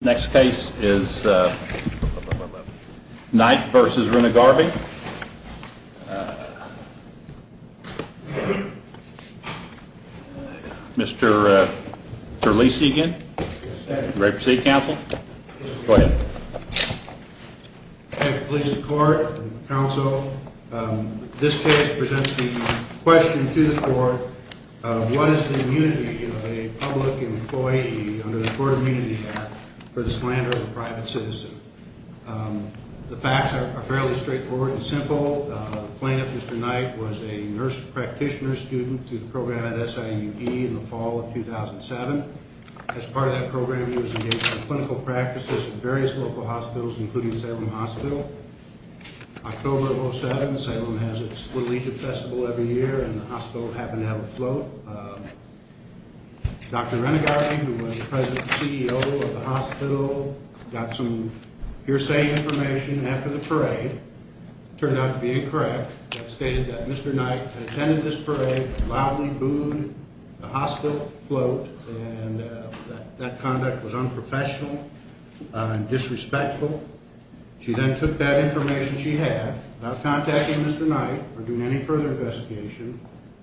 Next case is Knight v. Rennegarbe. Mr. Terlesi again. Ready to proceed, counsel? Go ahead. Please support counsel. This case presents the question to the court. What is the immunity of a public employee under the Court of Immunity Act for the slander of a private citizen? The facts are fairly straightforward and simple. The plaintiff, Mr. Knight, was a nurse practitioner student through the program at SIUE in the fall of 2007. As part of that program, he was engaged in clinical practices at various local hospitals, including Salem Hospital. October of 2007, Salem has its Little Egypt Festival every year and the hospital happened to have a float. Dr. Rennegarbe, who was the president and CEO of the hospital, got some hearsay information after the parade. It turned out to be incorrect. It stated that Mr. Knight attended this parade but loudly booed the hospital float and that conduct was unprofessional and disrespectful. She then took that information she had, without contacting Mr. Knight or doing any further investigation,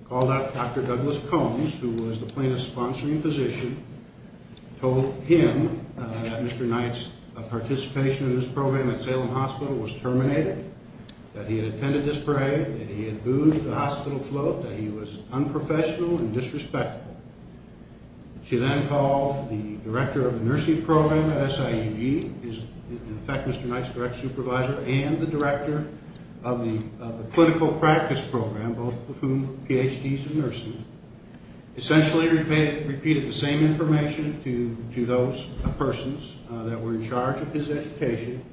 called up Dr. Douglas Combs, who was the plaintiff's sponsoring physician, told him that Mr. Knight's participation in this program at Salem Hospital was terminated, that he had attended this parade, that he had booed the hospital float, that he was unprofessional and disrespectful. She then called the director of the nursing program at SIUE, in fact, Mr. Knight's direct supervisor, and the director of the clinical practice program, both of whom were Ph.D.s in nursing, essentially repeated the same information to those persons that were in charge of his education,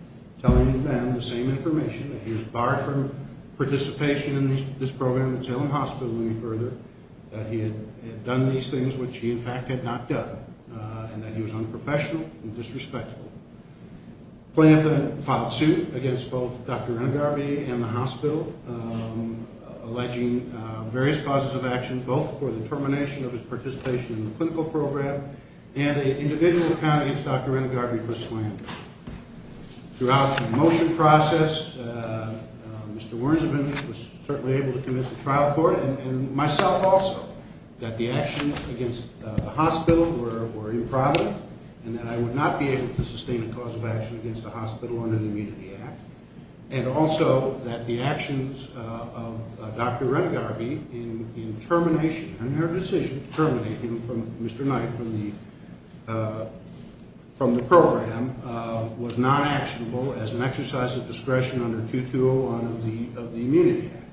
telling them the same information, that he was barred from participation in this program at Salem Hospital any further, that he had done this parade. All of these things which he, in fact, had not done, and that he was unprofessional and disrespectful. The plaintiff then filed suit against both Dr. Renegarby and the hospital, alleging various causes of action, both for the termination of his participation in the clinical program and an individual account against Dr. Renegarby for slander. Throughout the motion process, Mr. Wernzeman was certainly able to convince the trial court and myself also that the actions against the hospital were improper and that I would not be able to sustain a cause of action against the hospital under the Immunity Act, and also that the actions of Dr. Renegarby in termination, in her decision to terminate him from Mr. Knight, from the program, was not actionable as an exercise of discretion under 2201 of the Immunity Act.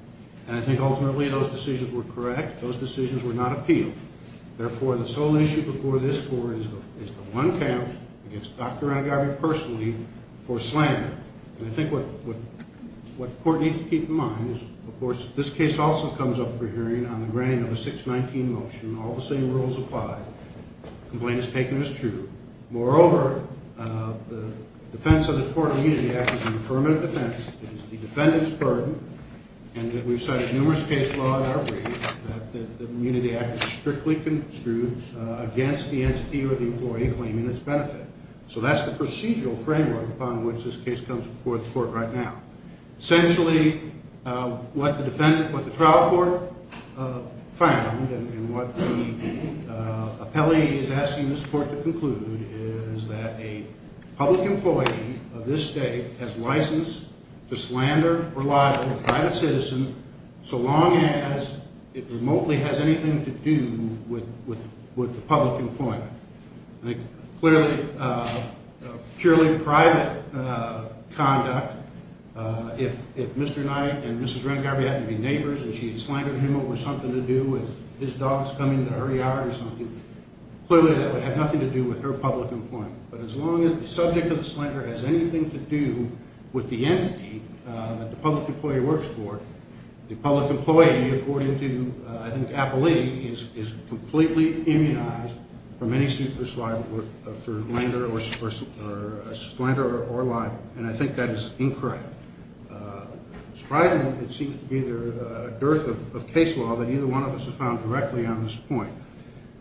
And I think ultimately those decisions were correct. Those decisions were not appealed. Therefore, the sole issue before this court is the one count against Dr. Renegarby personally for slander. And I think what the court needs to keep in mind is, of course, this case also comes up for hearing on the granting of a 619 motion. All the same rules apply. The complaint is taken as true. Moreover, the defense of the Court of Immunity Act is an affirmative defense. It is the defendant's burden. And we've cited numerous case law in our brief that the Immunity Act is strictly construed against the entity or the employee claiming its benefit. So that's the procedural framework upon which this case comes before the court right now. Essentially, what the trial court found, and what the appellee is asking this court to conclude, is that a public employee of this state has license to slander or lie to a private citizen so long as it remotely has anything to do with the public employee. Clearly, purely private conduct, if Mr. Knight and Mrs. Renegarby happened to be neighbors and she had slandered him over something to do with his dogs coming to her yard or something, clearly that would have nothing to do with her public employment. But as long as the subject of the slander has anything to do with the entity that the public employee works for, the public employee, according to, I think, appellee, is completely immunized from any suit for slander or lying. And I think that is incorrect. Surprisingly, it seems to be a dearth of case law that either one of us has found directly on this point.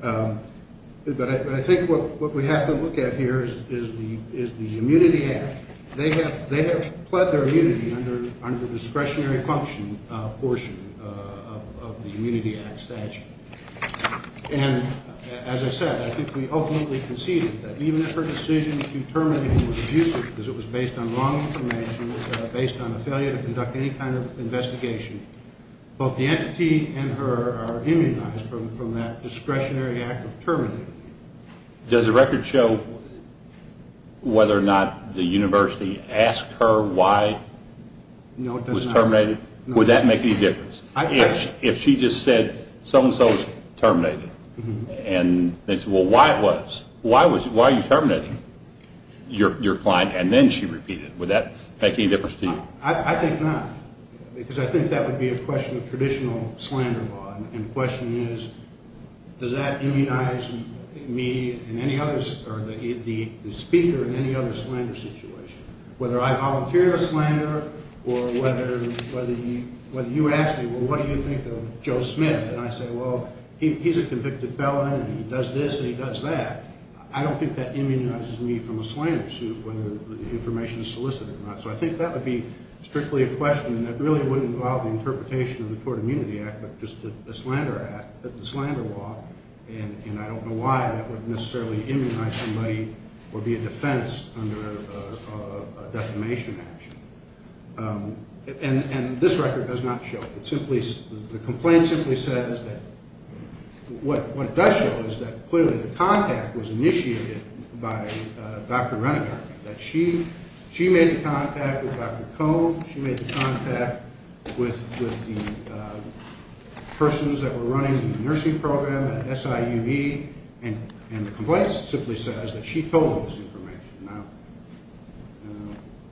But I think what we have to look at here is the Immunity Act. They have pled their immunity under the discretionary function portion of the Immunity Act statute. And as I said, I think we ultimately conceded that even if her decision to terminate him was abusive because it was based on wrong information, based on a failure to conduct any kind of investigation, both the entity and her are immunized from that discretionary act of terminating him. Does the record show whether or not the university asked her why it was terminated? Would that make any difference? If she just said, so-and-so is terminated, and they said, well, why are you terminating your client? And then she repeated it. Would that make any difference to you? I think not. Because I think that would be a question of traditional slander law. And the question is, does that immunize me or the speaker in any other slander situation? Whether I volunteer a slander or whether you ask me, well, what do you think of Joe Smith? And I say, well, he's a convicted felon and he does this and he does that. I don't think that immunizes me from a slander suit whether the information is solicited or not. So I think that would be strictly a question that really wouldn't involve the interpretation of the Tort Immunity Act but just the slander act, the slander law. And I don't know why that would necessarily immunize somebody or be a defense under a defamation action. And this record does not show it. The complaint simply says that what it does show is that clearly the contact was initiated by Dr. Renegar, that she made the contact with Dr. Cohn. She made the contact with the persons that were running the nursing program at SIUE. And the complaint simply says that she told them this information. Now,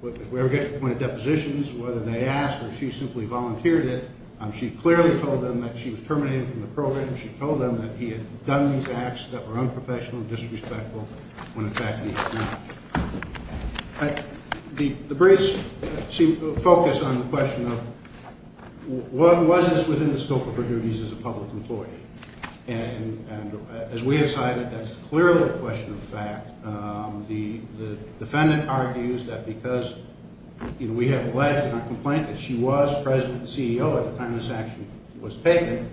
if we ever get to the point of depositions, whether they asked or she simply volunteered it, she clearly told them that she was terminated from the program. She told them that he had done these acts that were unprofessional and disrespectful when in fact he had not. The briefs seem to focus on the question of was this within the scope of her duties as a public employee. And as we have cited, that's clearly a question of fact. The defendant argues that because we have alleged in our complaint that she was president and CEO at the time this action was taken,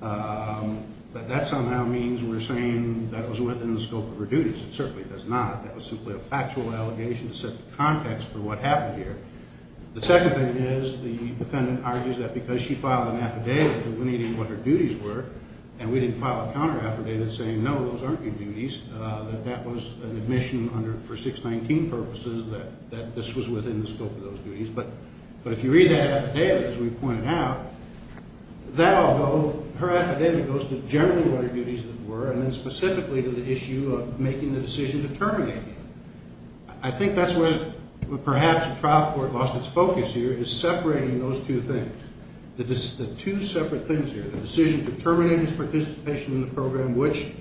that that somehow means we're saying that was within the scope of her duties. It certainly does not. That was simply a factual allegation to set the context for what happened here. The second thing is the defendant argues that because she filed an affidavit that we needed what her duties were and we didn't file a counter affidavit saying, no, those aren't your duties, that that was an admission for 619 purposes that this was within the scope of those duties. But if you read that affidavit, as we pointed out, that, although her affidavit goes to generally what her duties were and then specifically to the issue of making the decision to terminate him. I think that's where perhaps the trial court lost its focus here is separating those two things. The two separate things here, the decision to terminate his participation in the program, which,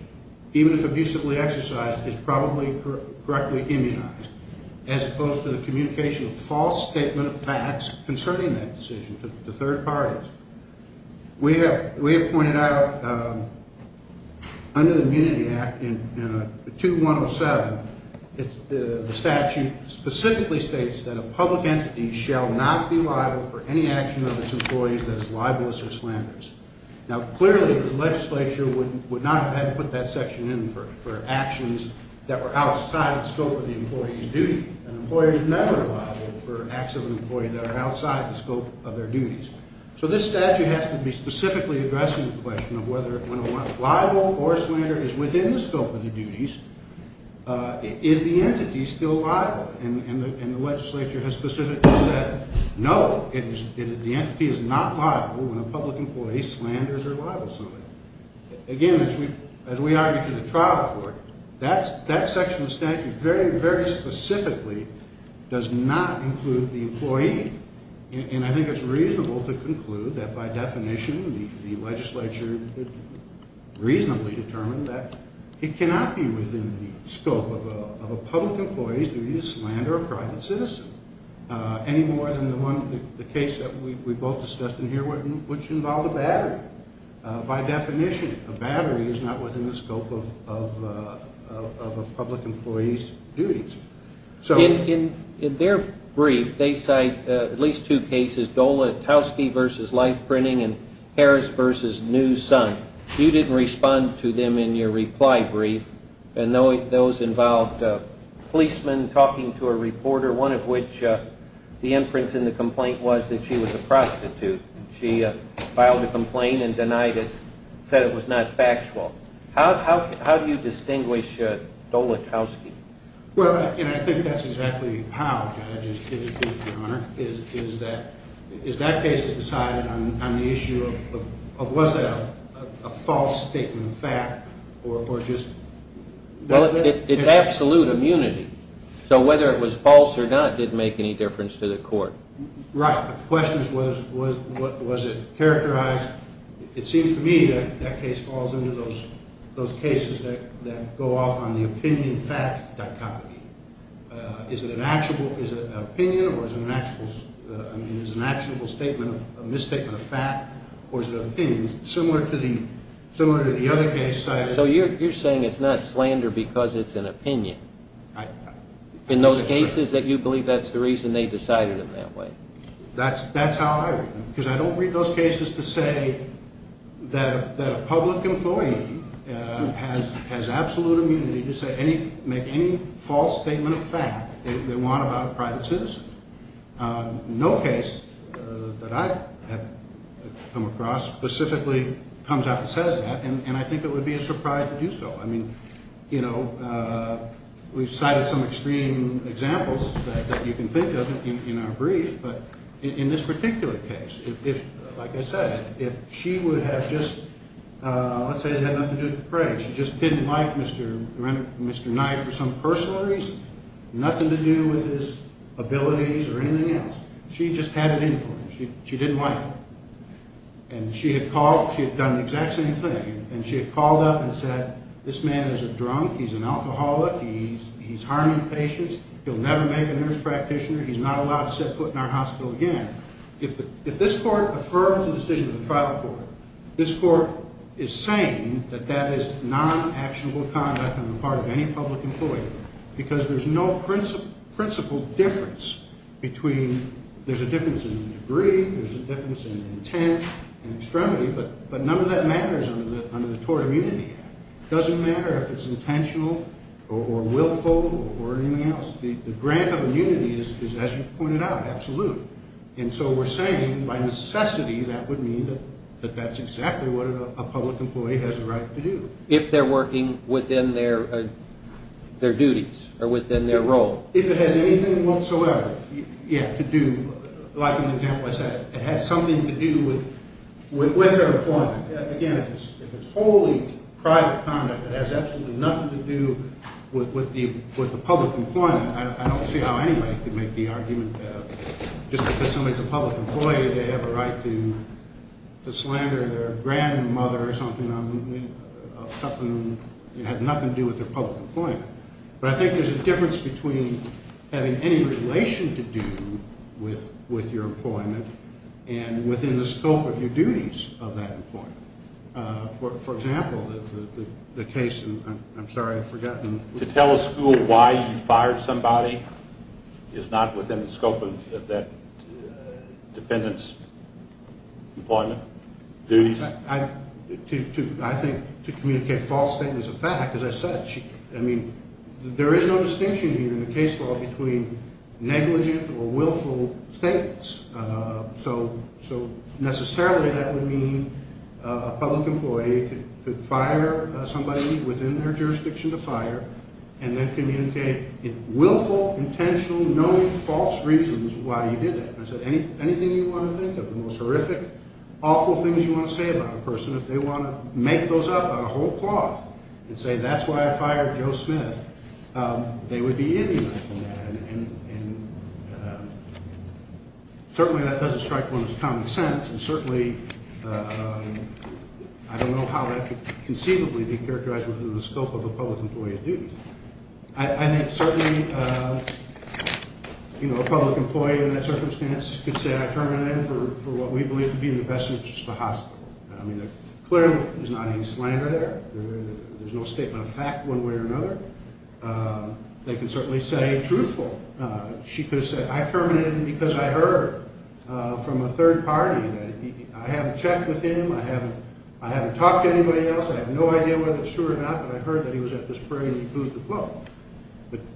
even if abusively exercised, is probably correctly immunized, as opposed to the communication of false statement of facts concerning that decision to third parties. We have pointed out under the Immunity Act, in 2107, the statute specifically states that a public entity shall not be liable for any action of its employees that is libelous or slanderous. Now, clearly, the legislature would not have had to put that section in for actions that were outside the scope of the employee's duty. An employer is never liable for acts of an employee that are outside the scope of their duties. So this statute has to be specifically addressing the question of whether when a libel or slander is within the scope of the duties, is the entity still liable? And the legislature has specifically said, no, the entity is not liable when a public employee slanders or libels somebody. Again, as we argued to the trial court, that section of the statute very, very specifically does not include the employee, and I think it's reasonable to conclude that by definition the legislature reasonably determined that it cannot be within the scope of a public employee's duty to slander a private citizen, any more than the case that we both discussed in here, which involved a battery. By definition, a battery is not within the scope of a public employee's duties. In their brief, they cite at least two cases, Dola-Towski v. Life Printing and Harris v. New Sun. You didn't respond to them in your reply brief, and those involved policemen talking to a reporter, one of which the inference in the complaint was that she was a prostitute. She filed a complaint and denied it, said it was not factual. How do you distinguish Dola-Towski? Well, and I think that's exactly how, Judge, is that case is decided on the issue of was that a false statement of fact or just? Well, it's absolute immunity, so whether it was false or not didn't make any difference to the court. Right, the question is was it characterized? It seems to me that that case falls into those cases that go off on the opinion-fact dichotomy. Is it an opinion or is it an actionable statement, a misstatement of fact, or is it an opinion? Similar to the other case cited. So you're saying it's not slander because it's an opinion? In those cases that you believe that's the reason they decided it that way? That's how I read them, because I don't read those cases to say that a public employee has absolute immunity to make any false statement of fact they want about a private citizen. No case that I have come across specifically comes out that says that, and I think it would be a surprise to do so. I mean, you know, we've cited some extreme examples that you can think of in our brief, but in this particular case, like I said, if she would have just – let's say it had nothing to do with Craig. She just didn't like Mr. Knight for some personal reason, nothing to do with his abilities or anything else. She just had it in for him. She didn't like him. And she had called – she had done the exact same thing. And she had called up and said, this man is a drunk, he's an alcoholic, he's harming patients, he'll never make a nurse practitioner, he's not allowed to set foot in our hospital again. If this court affirms the decision of the trial court, this court is saying that that is non-actionable conduct on the part of any public employee, because there's no principled difference between – there's a difference in degree, there's a difference in intent and extremity, but none of that matters under the Tort of Immunity Act. It doesn't matter if it's intentional or willful or anything else. The grant of immunity is, as you pointed out, absolute. And so we're saying, by necessity, that would mean that that's exactly what a public employee has a right to do. If they're working within their duties or within their role. If it has anything whatsoever to do – like in the example I said, it had something to do with her employment. Again, if it's wholly private conduct, it has absolutely nothing to do with the public employment. I don't see how anybody could make the argument that just because somebody's a public employee they have a right to slander their grandmother or something, something that has nothing to do with their public employment. But I think there's a difference between having any relation to do with your employment and within the scope of your duties of that employment. For example, the case – I'm sorry, I've forgotten. To tell a school why you fired somebody is not within the scope of that dependent's employment, duties? I think to communicate a false statement is a fact. As I said, I mean, there is no distinction here in the case law between negligent or willful statements. So necessarily that would mean a public employee could fire somebody within their jurisdiction to fire and then communicate in willful, intentional, knowing false reasons why he did it. And I said anything you want to think of, the most horrific, awful things you want to say about a person, if they want to make those up on a whole cloth and say that's why I fired Joe Smith, they would be indignant in that. And certainly that doesn't strike one as common sense, and certainly I don't know how that could conceivably be characterized within the scope of a public employee's duties. I think certainly a public employee in that circumstance could say I terminated him for what we believe to be in the best interest of the hospital. I mean, clearly there's not any slander there. There's no statement of fact one way or another. They could certainly say truthful. She could have said I terminated him because I heard from a third party that I haven't checked with him, I haven't talked to anybody else, I have no idea whether it's true or not, but I heard that he was at this prairie and he proved to float.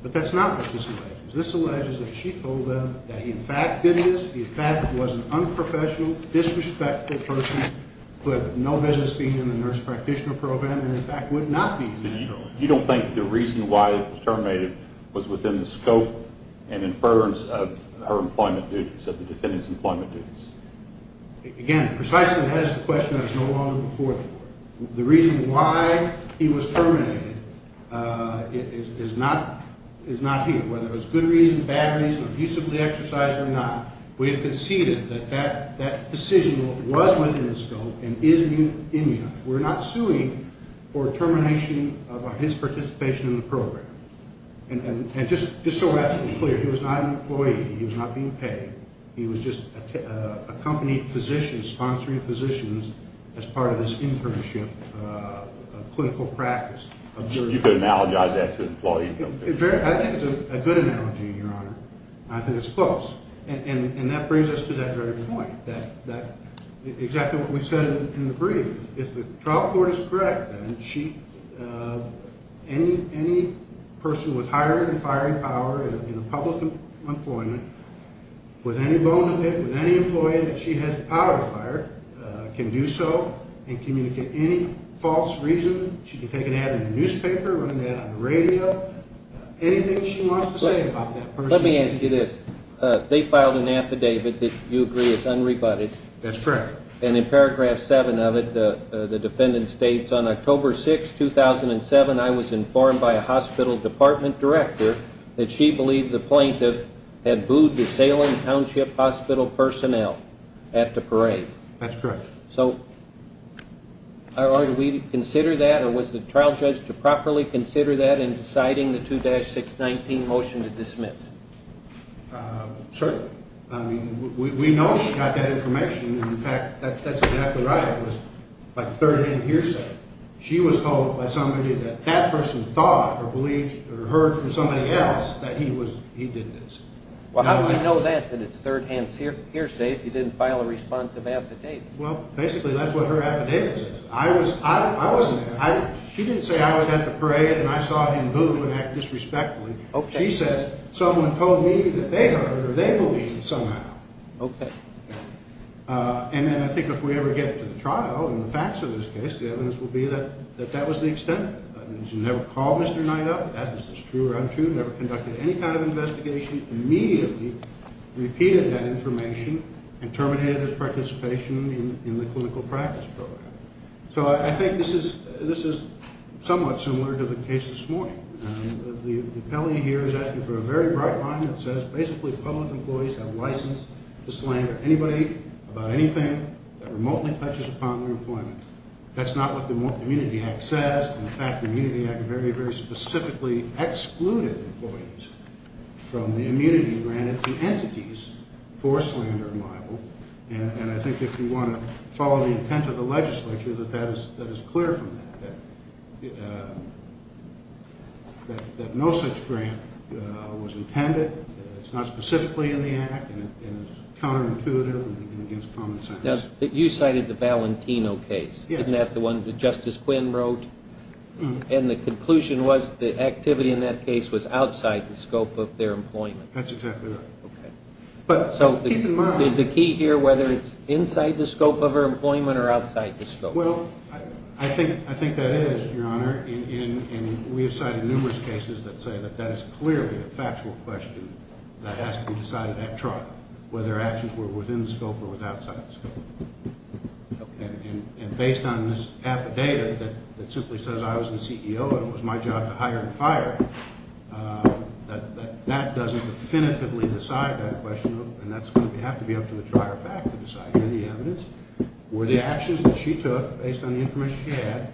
But that's not what this alleges. This alleges that she told them that he in fact did this, he in fact was an unprofessional, disrespectful person, who had no business being in the nurse practitioner program and in fact would not be in that program. You don't think the reason why he was terminated was within the scope and inference of her employment duties, of the defendant's employment duties? Again, precisely that is the question that is no longer before the Court. The reason why he was terminated is not here. Whether it's good reason, bad reason, abusively exercised or not, we have conceded that that decision was within the scope and is in the act. We're not suing for termination of his participation in the program. And just so we're absolutely clear, he was not an employee. He was not being paid. He was just a company physician, sponsoring physicians as part of his internship, clinical practice. You could analogize that to an employee. I think it's a good analogy, Your Honor. I think it's close. And that brings us to that very point, exactly what we said in the brief. If the trial court is correct, then any person with hiring and firing power in a public employment, with any bone of it, with any employee that she has the power to fire, can do so and communicate any false reason. She can take an ad in the newspaper, run an ad on the radio, anything she wants to say about that person. Let me ask you this. They filed an affidavit that you agree is unrebutted. That's correct. And in paragraph 7 of it, the defendant states, On October 6, 2007, I was informed by a hospital department director that she believed the plaintiff had booed the Salem Township Hospital personnel at the parade. That's correct. So are we to consider that? Or was the trial judge to properly consider that in deciding the 2-619 motion to dismiss? Certainly. I mean, we know she got that information. And, in fact, that's exactly right. It was by third-hand hearsay. She was told by somebody that that person thought or believed or heard from somebody else that he did this. Well, how do we know that? That it's third-hand hearsay if you didn't file a responsive affidavit? Well, basically, that's what her affidavit says. I wasn't there. She didn't say I was at the parade and I saw him boo and act disrespectfully. She says someone told me that they heard or they believed somehow. Okay. And then I think if we ever get to the trial and the facts of this case, the evidence will be that that was the extent of it. She never called Mr. Knight up. That is true or untrue. Never conducted any kind of investigation. Immediately repeated that information and terminated his participation in the clinical practice program. So I think this is somewhat similar to the case this morning. The appellee here is asking for a very bright line that says basically public employees have license to slander anybody about anything that remotely touches upon their employment. That's not what the Immunity Act says. In fact, the Immunity Act very, very specifically excluded employees from the immunity granted to entities for slander and libel. And I think if you want to follow the intent of the legislature, that is clear from that. That no such grant was intended. It's not specifically in the act and it's counterintuitive and against common sense. You cited the Valentino case, isn't that the one that Justice Quinn wrote? And the conclusion was the activity in that case was outside the scope of their employment. That's exactly right. Okay. So there's a key here whether it's inside the scope of their employment or outside the scope. Well, I think that is, Your Honor, and we have cited numerous cases that say that that is clearly a factual question that has to be decided at trial, whether actions were within the scope or outside the scope. And based on this affidavit that simply says I was the CEO and it was my job to hire and fire, that that doesn't definitively decide that question, and that's going to have to be up to the trier fact to decide any evidence, were the actions that she took based on the information she had,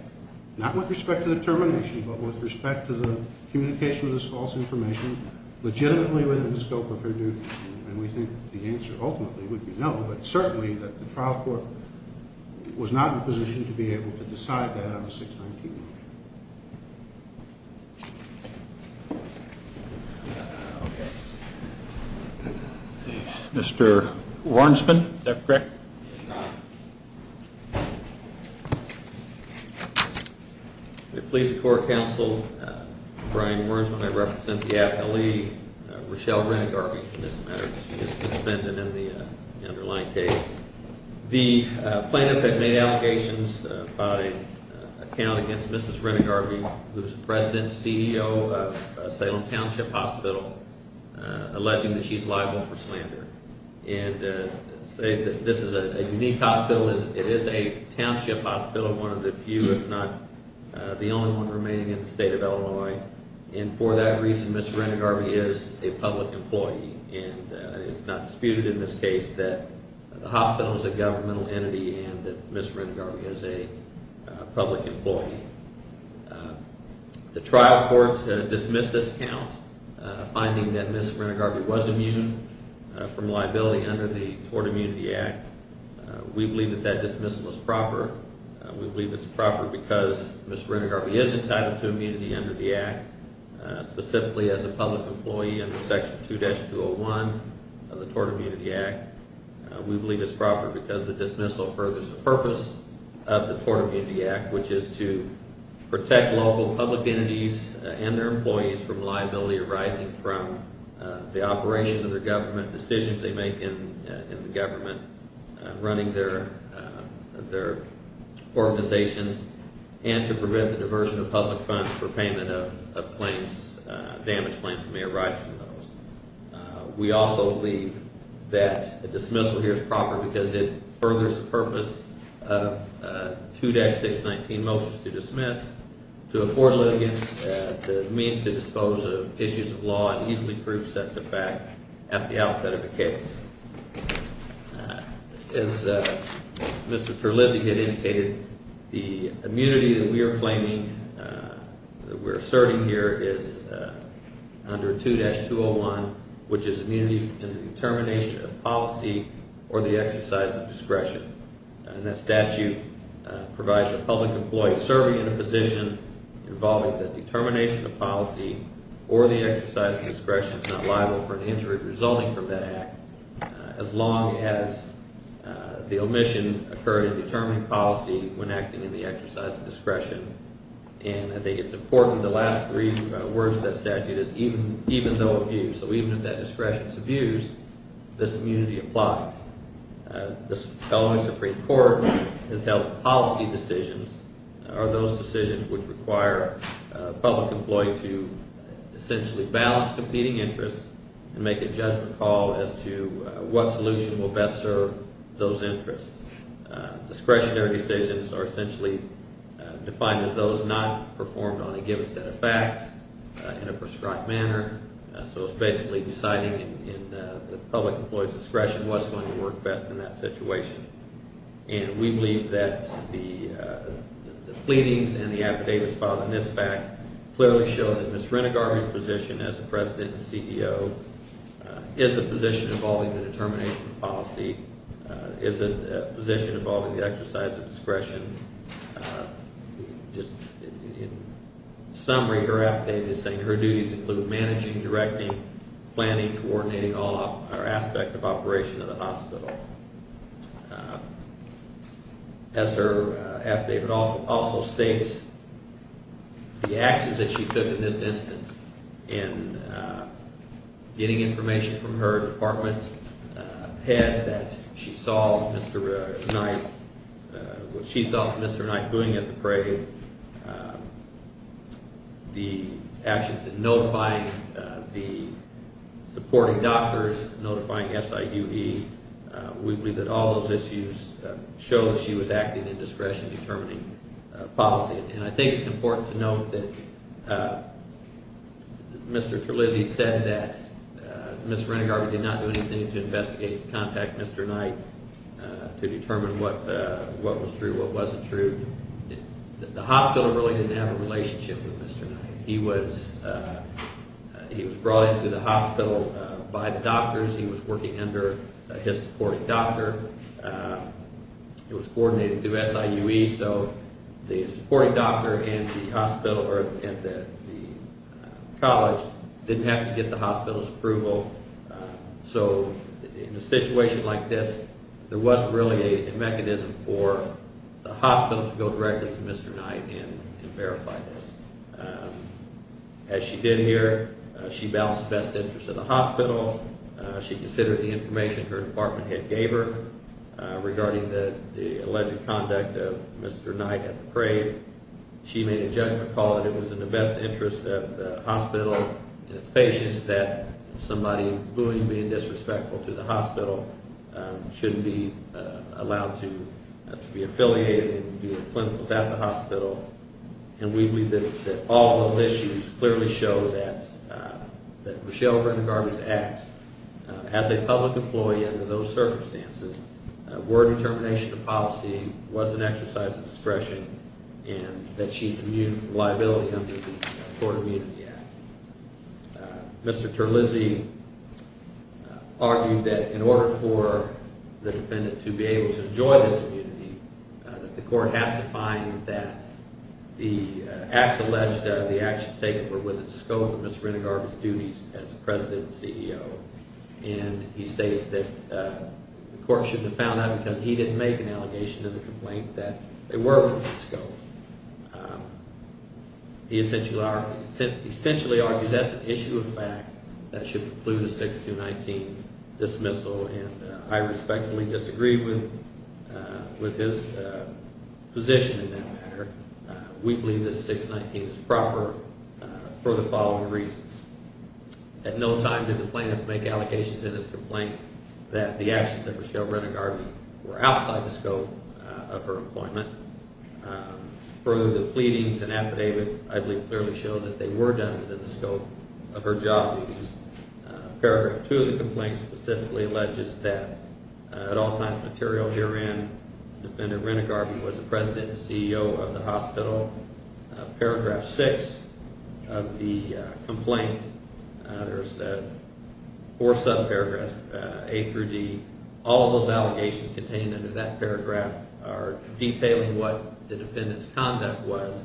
not with respect to the termination, but with respect to the communication of this false information, legitimately within the scope of her duties? And we think the answer ultimately would be no, but certainly that the trial court was not in a position to be able to decide that on a 619 motion. Mr. Warnsman, is that correct? It's not. I please the court counsel, Brian Warnsman, I represent the appellee, Rochelle Renegarby, for this matter. She is suspended in the underlying case. The plaintiff had made allegations about an account against Mrs. Renegarby, who is the president and CEO of Salem Township Hospital, alleging that she's liable for slander. This is a unique hospital. It is a township hospital, one of the few, if not the only one, remaining in the state of Illinois. And for that reason, Mrs. Renegarby is a public employee. And it's not disputed in this case that the hospital is a governmental entity and that Mrs. Renegarby is a public employee. The trial court dismissed this count, finding that Mrs. Renegarby was immune from liability under the Tort Immunity Act. We believe that that dismissal is proper. We believe it's proper because Mrs. Renegarby is entitled to immunity under the Act, specifically as a public employee under Section 2-201 of the Tort Immunity Act. We believe it's proper because the dismissal furthers the purpose of the Tort Immunity Act, which is to protect local public entities and their employees from liability arising from the operation of their government, decisions they make in the government, running their organizations, and to prevent the diversion of public funds for payment of claims, damage claims that may arise from those. We also believe that a dismissal here is proper because it furthers the purpose of 2-619 motions to dismiss, to afford a litigant the means to dispose of issues of law and easily prove sets of facts at the outset of a case. As Mr. Terlizzi had indicated, the immunity that we are claiming, that we're asserting here, is under 2-201, which is immunity in the determination of policy or the exercise of discretion. And that statute provides a public employee serving in a position involving the determination of policy or the exercise of discretion is not liable for an injury resulting from that act, as long as the omission occurred in determining policy when acting in the exercise of discretion. And I think it's important, the last three words of that statute is, even though abuse, so even if that discretion is abused, this immunity applies. The following Supreme Court has held policy decisions are those decisions which require a public employee to essentially balance competing interests and make a judgment call as to what solution will best serve those interests. Discretionary decisions are essentially defined as those not performed on a given set of facts in a prescribed manner. So it's basically deciding in the public employee's discretion what's going to work best in that situation. And we believe that the pleadings and the affidavits filed in this fact clearly show that Ms. Renegar, whose position as the President and CEO, is a position involving the determination of policy, is a position involving the exercise of discretion. In summary, her affidavit is saying her duties include managing, directing, planning, coordinating all aspects of operation of the hospital. As her affidavit also states, the actions that she took in this instance in getting information from her department's head that she saw Mr. Knight, what she thought Mr. Knight doing at the parade, the actions in notifying the supporting doctors, notifying SIUE, we believe that all those issues show that she was acting in discretion in determining policy. And I think it's important to note that Mr. Terlizzi said that Ms. Renegar did not do anything to investigate, to contact Mr. Knight to determine what was true, what wasn't true. The hospital really didn't have a relationship with Mr. Knight. He was brought into the hospital by the doctors. He was working under his supporting doctor. It was coordinated through SIUE, so the supporting doctor and the college didn't have to get the hospital's approval. So in a situation like this, there wasn't really a mechanism for the hospital to go directly to Mr. Knight and verify this. As she did here, she balanced the best interest of the hospital. She considered the information her department head gave her regarding the alleged conduct of Mr. Knight at the parade. She made a judgment call that it was in the best interest of the hospital and its patients that somebody who is being disrespectful to the hospital shouldn't be allowed to be affiliated and do clinicals at the hospital. And we believe that all those issues clearly show that Rochelle Renegar was X. As a public employee under those circumstances, word determination of policy was an exercise of discretion and that she's immune from liability under the Tort Immunity Act. Mr. Terlizzi argued that in order for the defendant to be able to enjoy this immunity, the court has to find that the acts alleged were within the scope of Ms. Renegar's duties as president and CEO. And he states that the court shouldn't have found that because he didn't make an allegation to the complaint that they were within the scope. He essentially argues that's an issue of fact that should preclude a 6-2-19 dismissal. And I respectfully disagree with his position in that matter. We believe that a 6-19 is proper for the following reasons. At no time did the plaintiff make allegations in his complaint that the actions of Rochelle Renegar were outside the scope of her employment. Further, the pleadings and affidavits, I believe, clearly show that they were done within the scope of her job duties. Paragraph 2 of the complaint specifically alleges that at all times of material herein, Defendant Renegar was the president and CEO of the hospital. Paragraph 6 of the complaint, there's four subparagraphs, A through D. All of those allegations contained under that paragraph are detailing what the defendant's conduct was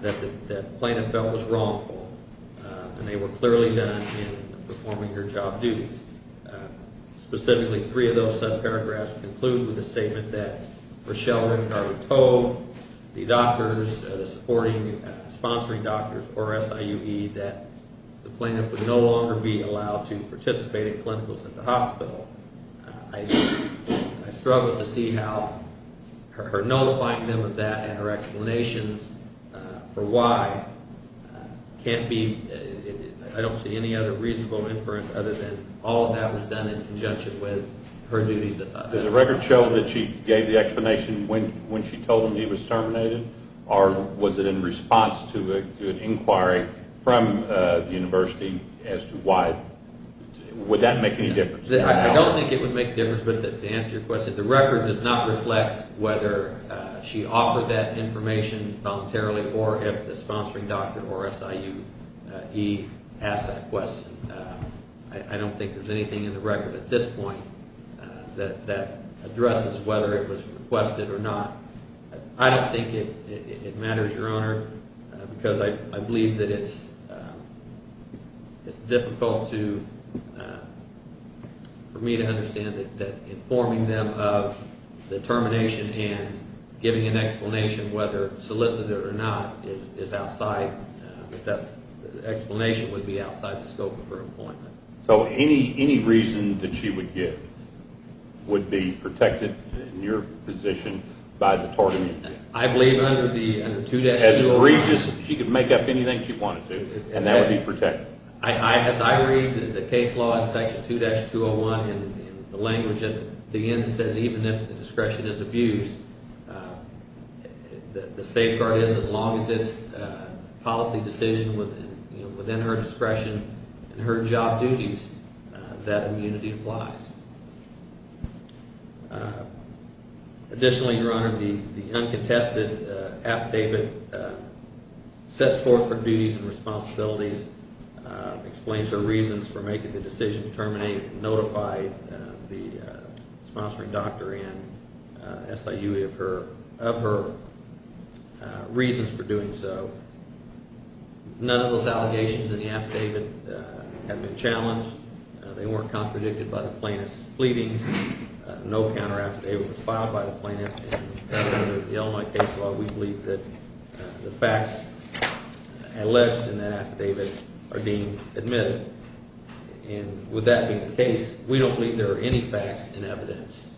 that the plaintiff felt was wrongful. And they were clearly done in performing her job duties. Specifically, three of those subparagraphs conclude with a statement that Rochelle Renegar told the doctors, the supporting and sponsoring doctors for SIUE that the plaintiff would no longer be allowed to participate in clinicals at the hospital. I struggle to see how her notifying them of that and her explanations for why can't be – I don't see any other reasonable inference other than all of that was done in conjunction with her duties as a doctor. Does the record show that she gave the explanation when she told him he was terminated? Or was it in response to an inquiry from the university as to why – would that make any difference? I don't think it would make a difference, but to answer your question, the record does not reflect whether she offered that information voluntarily or if the sponsoring doctor or SIUE asked that question. I don't think there's anything in the record at this point that addresses whether it was requested or not. I don't think it matters, Your Honor, because I believe that it's difficult for me to understand that informing them of the termination and giving an explanation whether solicited or not is outside – the explanation would be outside the scope of her appointment. So any reason that she would give would be protected in your position by the tort immunity? I believe under the 2-201 – As egregious – she could make up anything she wanted to, and that would be protected. As I read the case law in section 2-201 in the language at the end that says even if the discretion is abused, the safeguard is as long as it's a policy decision within her discretion and her job duties, that immunity applies. Additionally, Your Honor, the uncontested affidavit sets forth her duties and responsibilities, explains her reasons for making the decision to terminate and notify the sponsoring doctor and SIUE of her reasons for doing so. None of those allegations in the affidavit have been challenged. They weren't contradicted by the plaintiff's pleadings. No counteraffidavit was filed by the plaintiff. Under the Illinois case law, we believe that the facts alleged in that affidavit are being admitted. And with that being the case, we don't believe there are any facts in evidence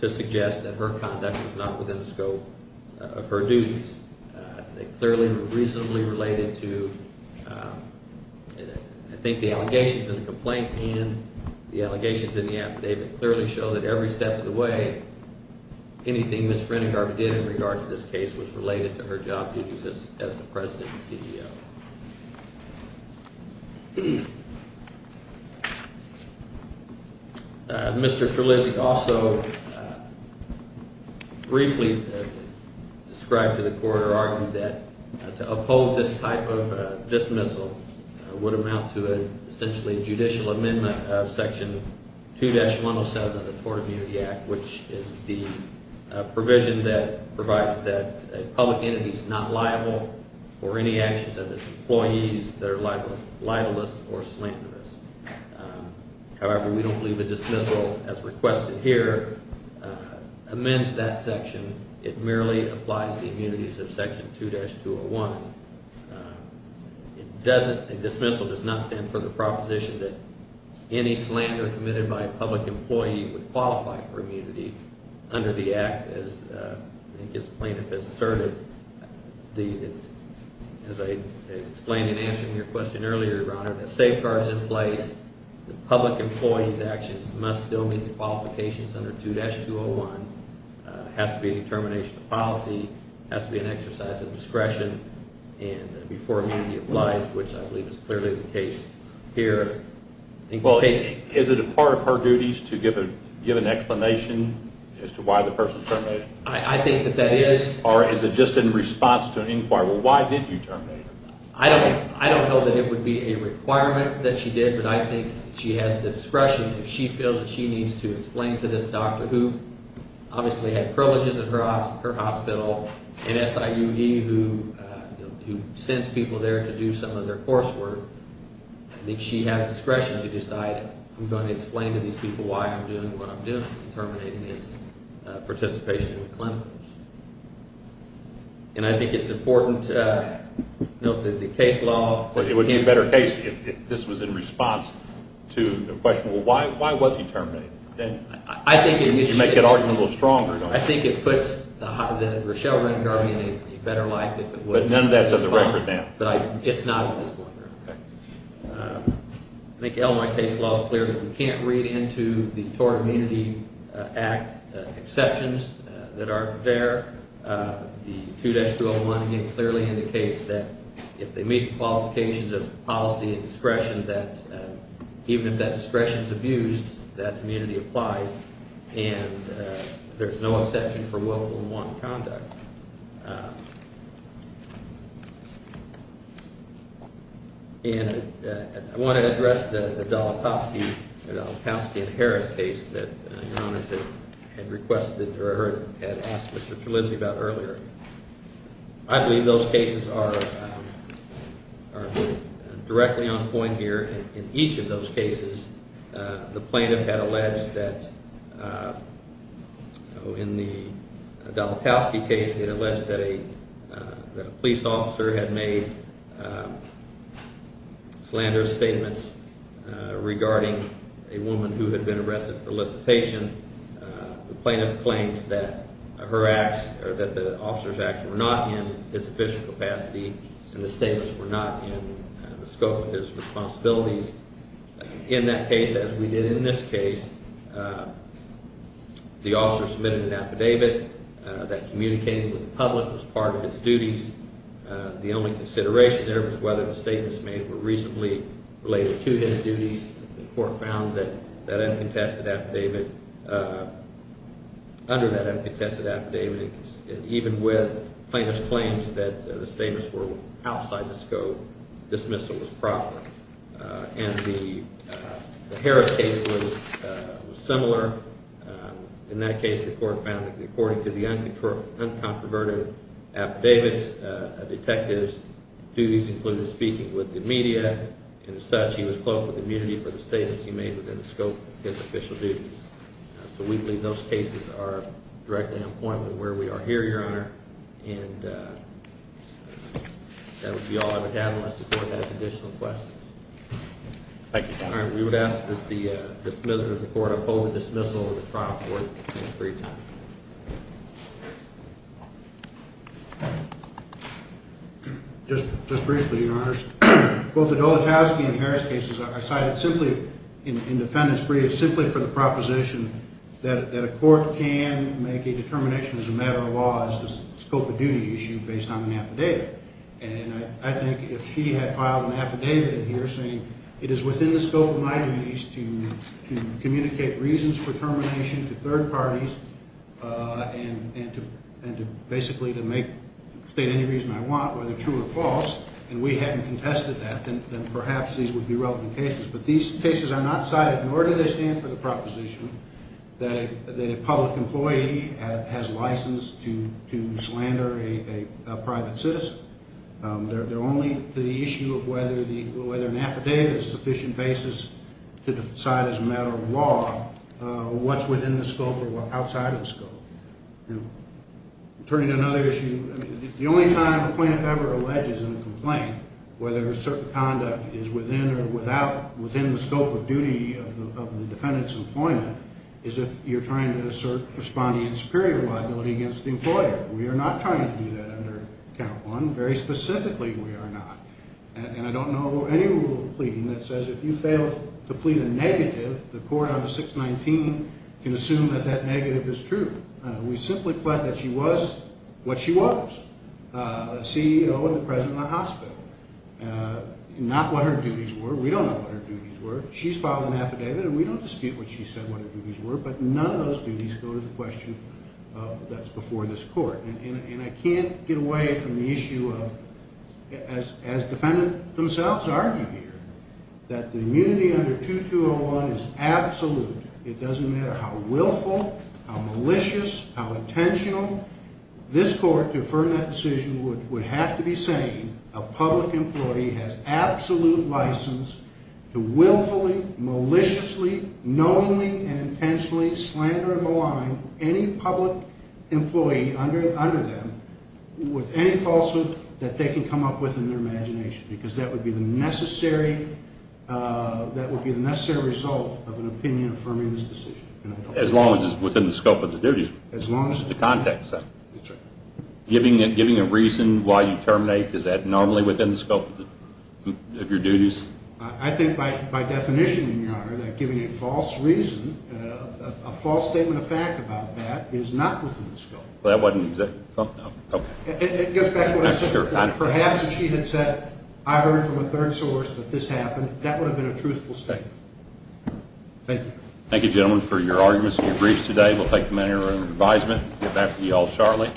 to suggest that her conduct was not within the scope of her duties. They clearly were reasonably related to – The allegations in the affidavit clearly show that every step of the way, anything Ms. Renegar did in regard to this case was related to her job duties as the president and CEO. Mr. Terlizzi also briefly described to the court or argued that to uphold this type of dismissal would amount to essentially a judicial amendment of Section 2-107 of the Tort Immunity Act, which is the provision that provides that a public entity is not liable for any actions of its employees that are libelous or slanderous. However, we don't believe a dismissal as requested here amends that section. It merely applies the immunities of Section 2-201. A dismissal does not stand for the proposition that any slander committed by a public employee would qualify for immunity under the act as plaintiff has asserted. As I explained in answering your question earlier, Your Honor, the safeguards in place, the public employee's actions must still meet the qualifications under 2-201. It has to be a determination of policy. It has to be an exercise of discretion before immunity applies, which I believe is clearly the case here. Well, is it a part of her duties to give an explanation as to why the person is terminated? I think that that is. Or is it just in response to an inquiry? Well, why did you terminate her? I don't know that it would be a requirement that she did, but I think she has the discretion. If she feels that she needs to explain to this doctor, who obviously had privileges at her hospital, an SIUD who sends people there to do some of their coursework, I think she had discretion to decide, I'm going to explain to these people why I'm doing what I'm doing, terminating this participation with clinicians. And I think it's important that the case law… Well, it would be a better case if this was in response to the question, well, why was he terminated? I think it… You make that argument a little stronger, don't you? I think it puts the Rochelle Rettigarvey in a better light if it was… But none of that's at the record now. It's not at this point. Okay. I think LMI case law is clear that we can't read into the Tort Immunity Act exceptions that aren't there. The 2-201 clearly indicates that if they meet the qualifications of policy and discretion, that even if that discretion is abused, that immunity applies, and there's no exception for willful and wanton conduct. And I want to address the Dolotowsky and Harris case that Your Honors had requested or had asked Mr. Trulizzi about earlier. I believe those cases are directly on point here. In each of those cases, the plaintiff had alleged that, in the Dolotowsky case, he had alleged that a police officer had made slanderous statements regarding a woman who had been arrested for licitation. The plaintiff claims that her acts or that the officer's acts were not in his official capacity and the statements were not in the scope of his responsibilities. In that case, as we did in this case, the officer submitted an affidavit that communicated with the public as part of his duties. The only consideration there was whether the statements made were reasonably related to his duties. The court found that under that uncontested affidavit, even with plaintiff's claims that the statements were outside the scope, dismissal was proper. And the Harris case was similar. In that case, the court found that according to the uncontroverted affidavits, detectives' duties included speaking with the media. And as such, he was close with immunity for the statements he made within the scope of his official duties. So we believe those cases are directly on point with where we are here, Your Honor. And that would be all I would have unless the court has additional questions. All right, we would ask that the dismissal of the court uphold the dismissal of the trial court. Thank you for your time. Just briefly, Your Honors. Both the Dolatowsky and Harris cases are cited simply in defendant's brief simply for the proposition that a court can make a determination as a matter of law as the scope of duty issue based on an affidavit. And I think if she had filed an affidavit in here saying it is within the scope of my duties to communicate reasons for termination to third parties, and basically to state any reason I want, whether true or false, and we hadn't contested that, then perhaps these would be relevant cases. But these cases are not cited, nor do they stand for the proposition that a public employee has license to slander a private citizen. They're only to the issue of whether an affidavit is a sufficient basis to decide as a matter of law what's within the scope or what's outside of the scope. Turning to another issue, the only time a plaintiff ever alleges in a complaint whether a certain conduct is within or without, within the scope of duty of the defendant's employment, is if you're trying to assert responding in superior liability against the employer. We are not trying to do that under count one. Very specifically, we are not. And I don't know of any rule of pleading that says if you fail to plead a negative, the court on the 619 can assume that that negative is true. We simply plead that she was what she was, a CEO and the president of the hospital. Not what her duties were. We don't know what her duties were. She's filed an affidavit, and we don't dispute what she said what her duties were, but none of those duties go to the question that's before this court. And I can't get away from the issue of, as defendants themselves argue here, that the immunity under 2201 is absolute. It doesn't matter how willful, how malicious, how intentional. This court, to affirm that decision, would have to be saying a public employee has absolute license to willfully, maliciously, knowingly, and intentionally slander and malign any public employee under them with any falsehood that they can come up with in their imagination. Because that would be the necessary result of an opinion affirming this decision. As long as it's within the scope of the duty. As long as it's within the scope of the duty. Giving a reason why you terminate, is that normally within the scope of your duties? I think by definition, Your Honor, that giving a false reason, a false statement of fact about that, is not within the scope. Well, that wasn't exactly the case. Perhaps if she had said, I heard from a third source that this happened, that would have been a truthful statement. Thank you. Thank you gentlemen for your arguments and your briefs today. We'll take a minute of your advisement. We'll get back to you all shortly.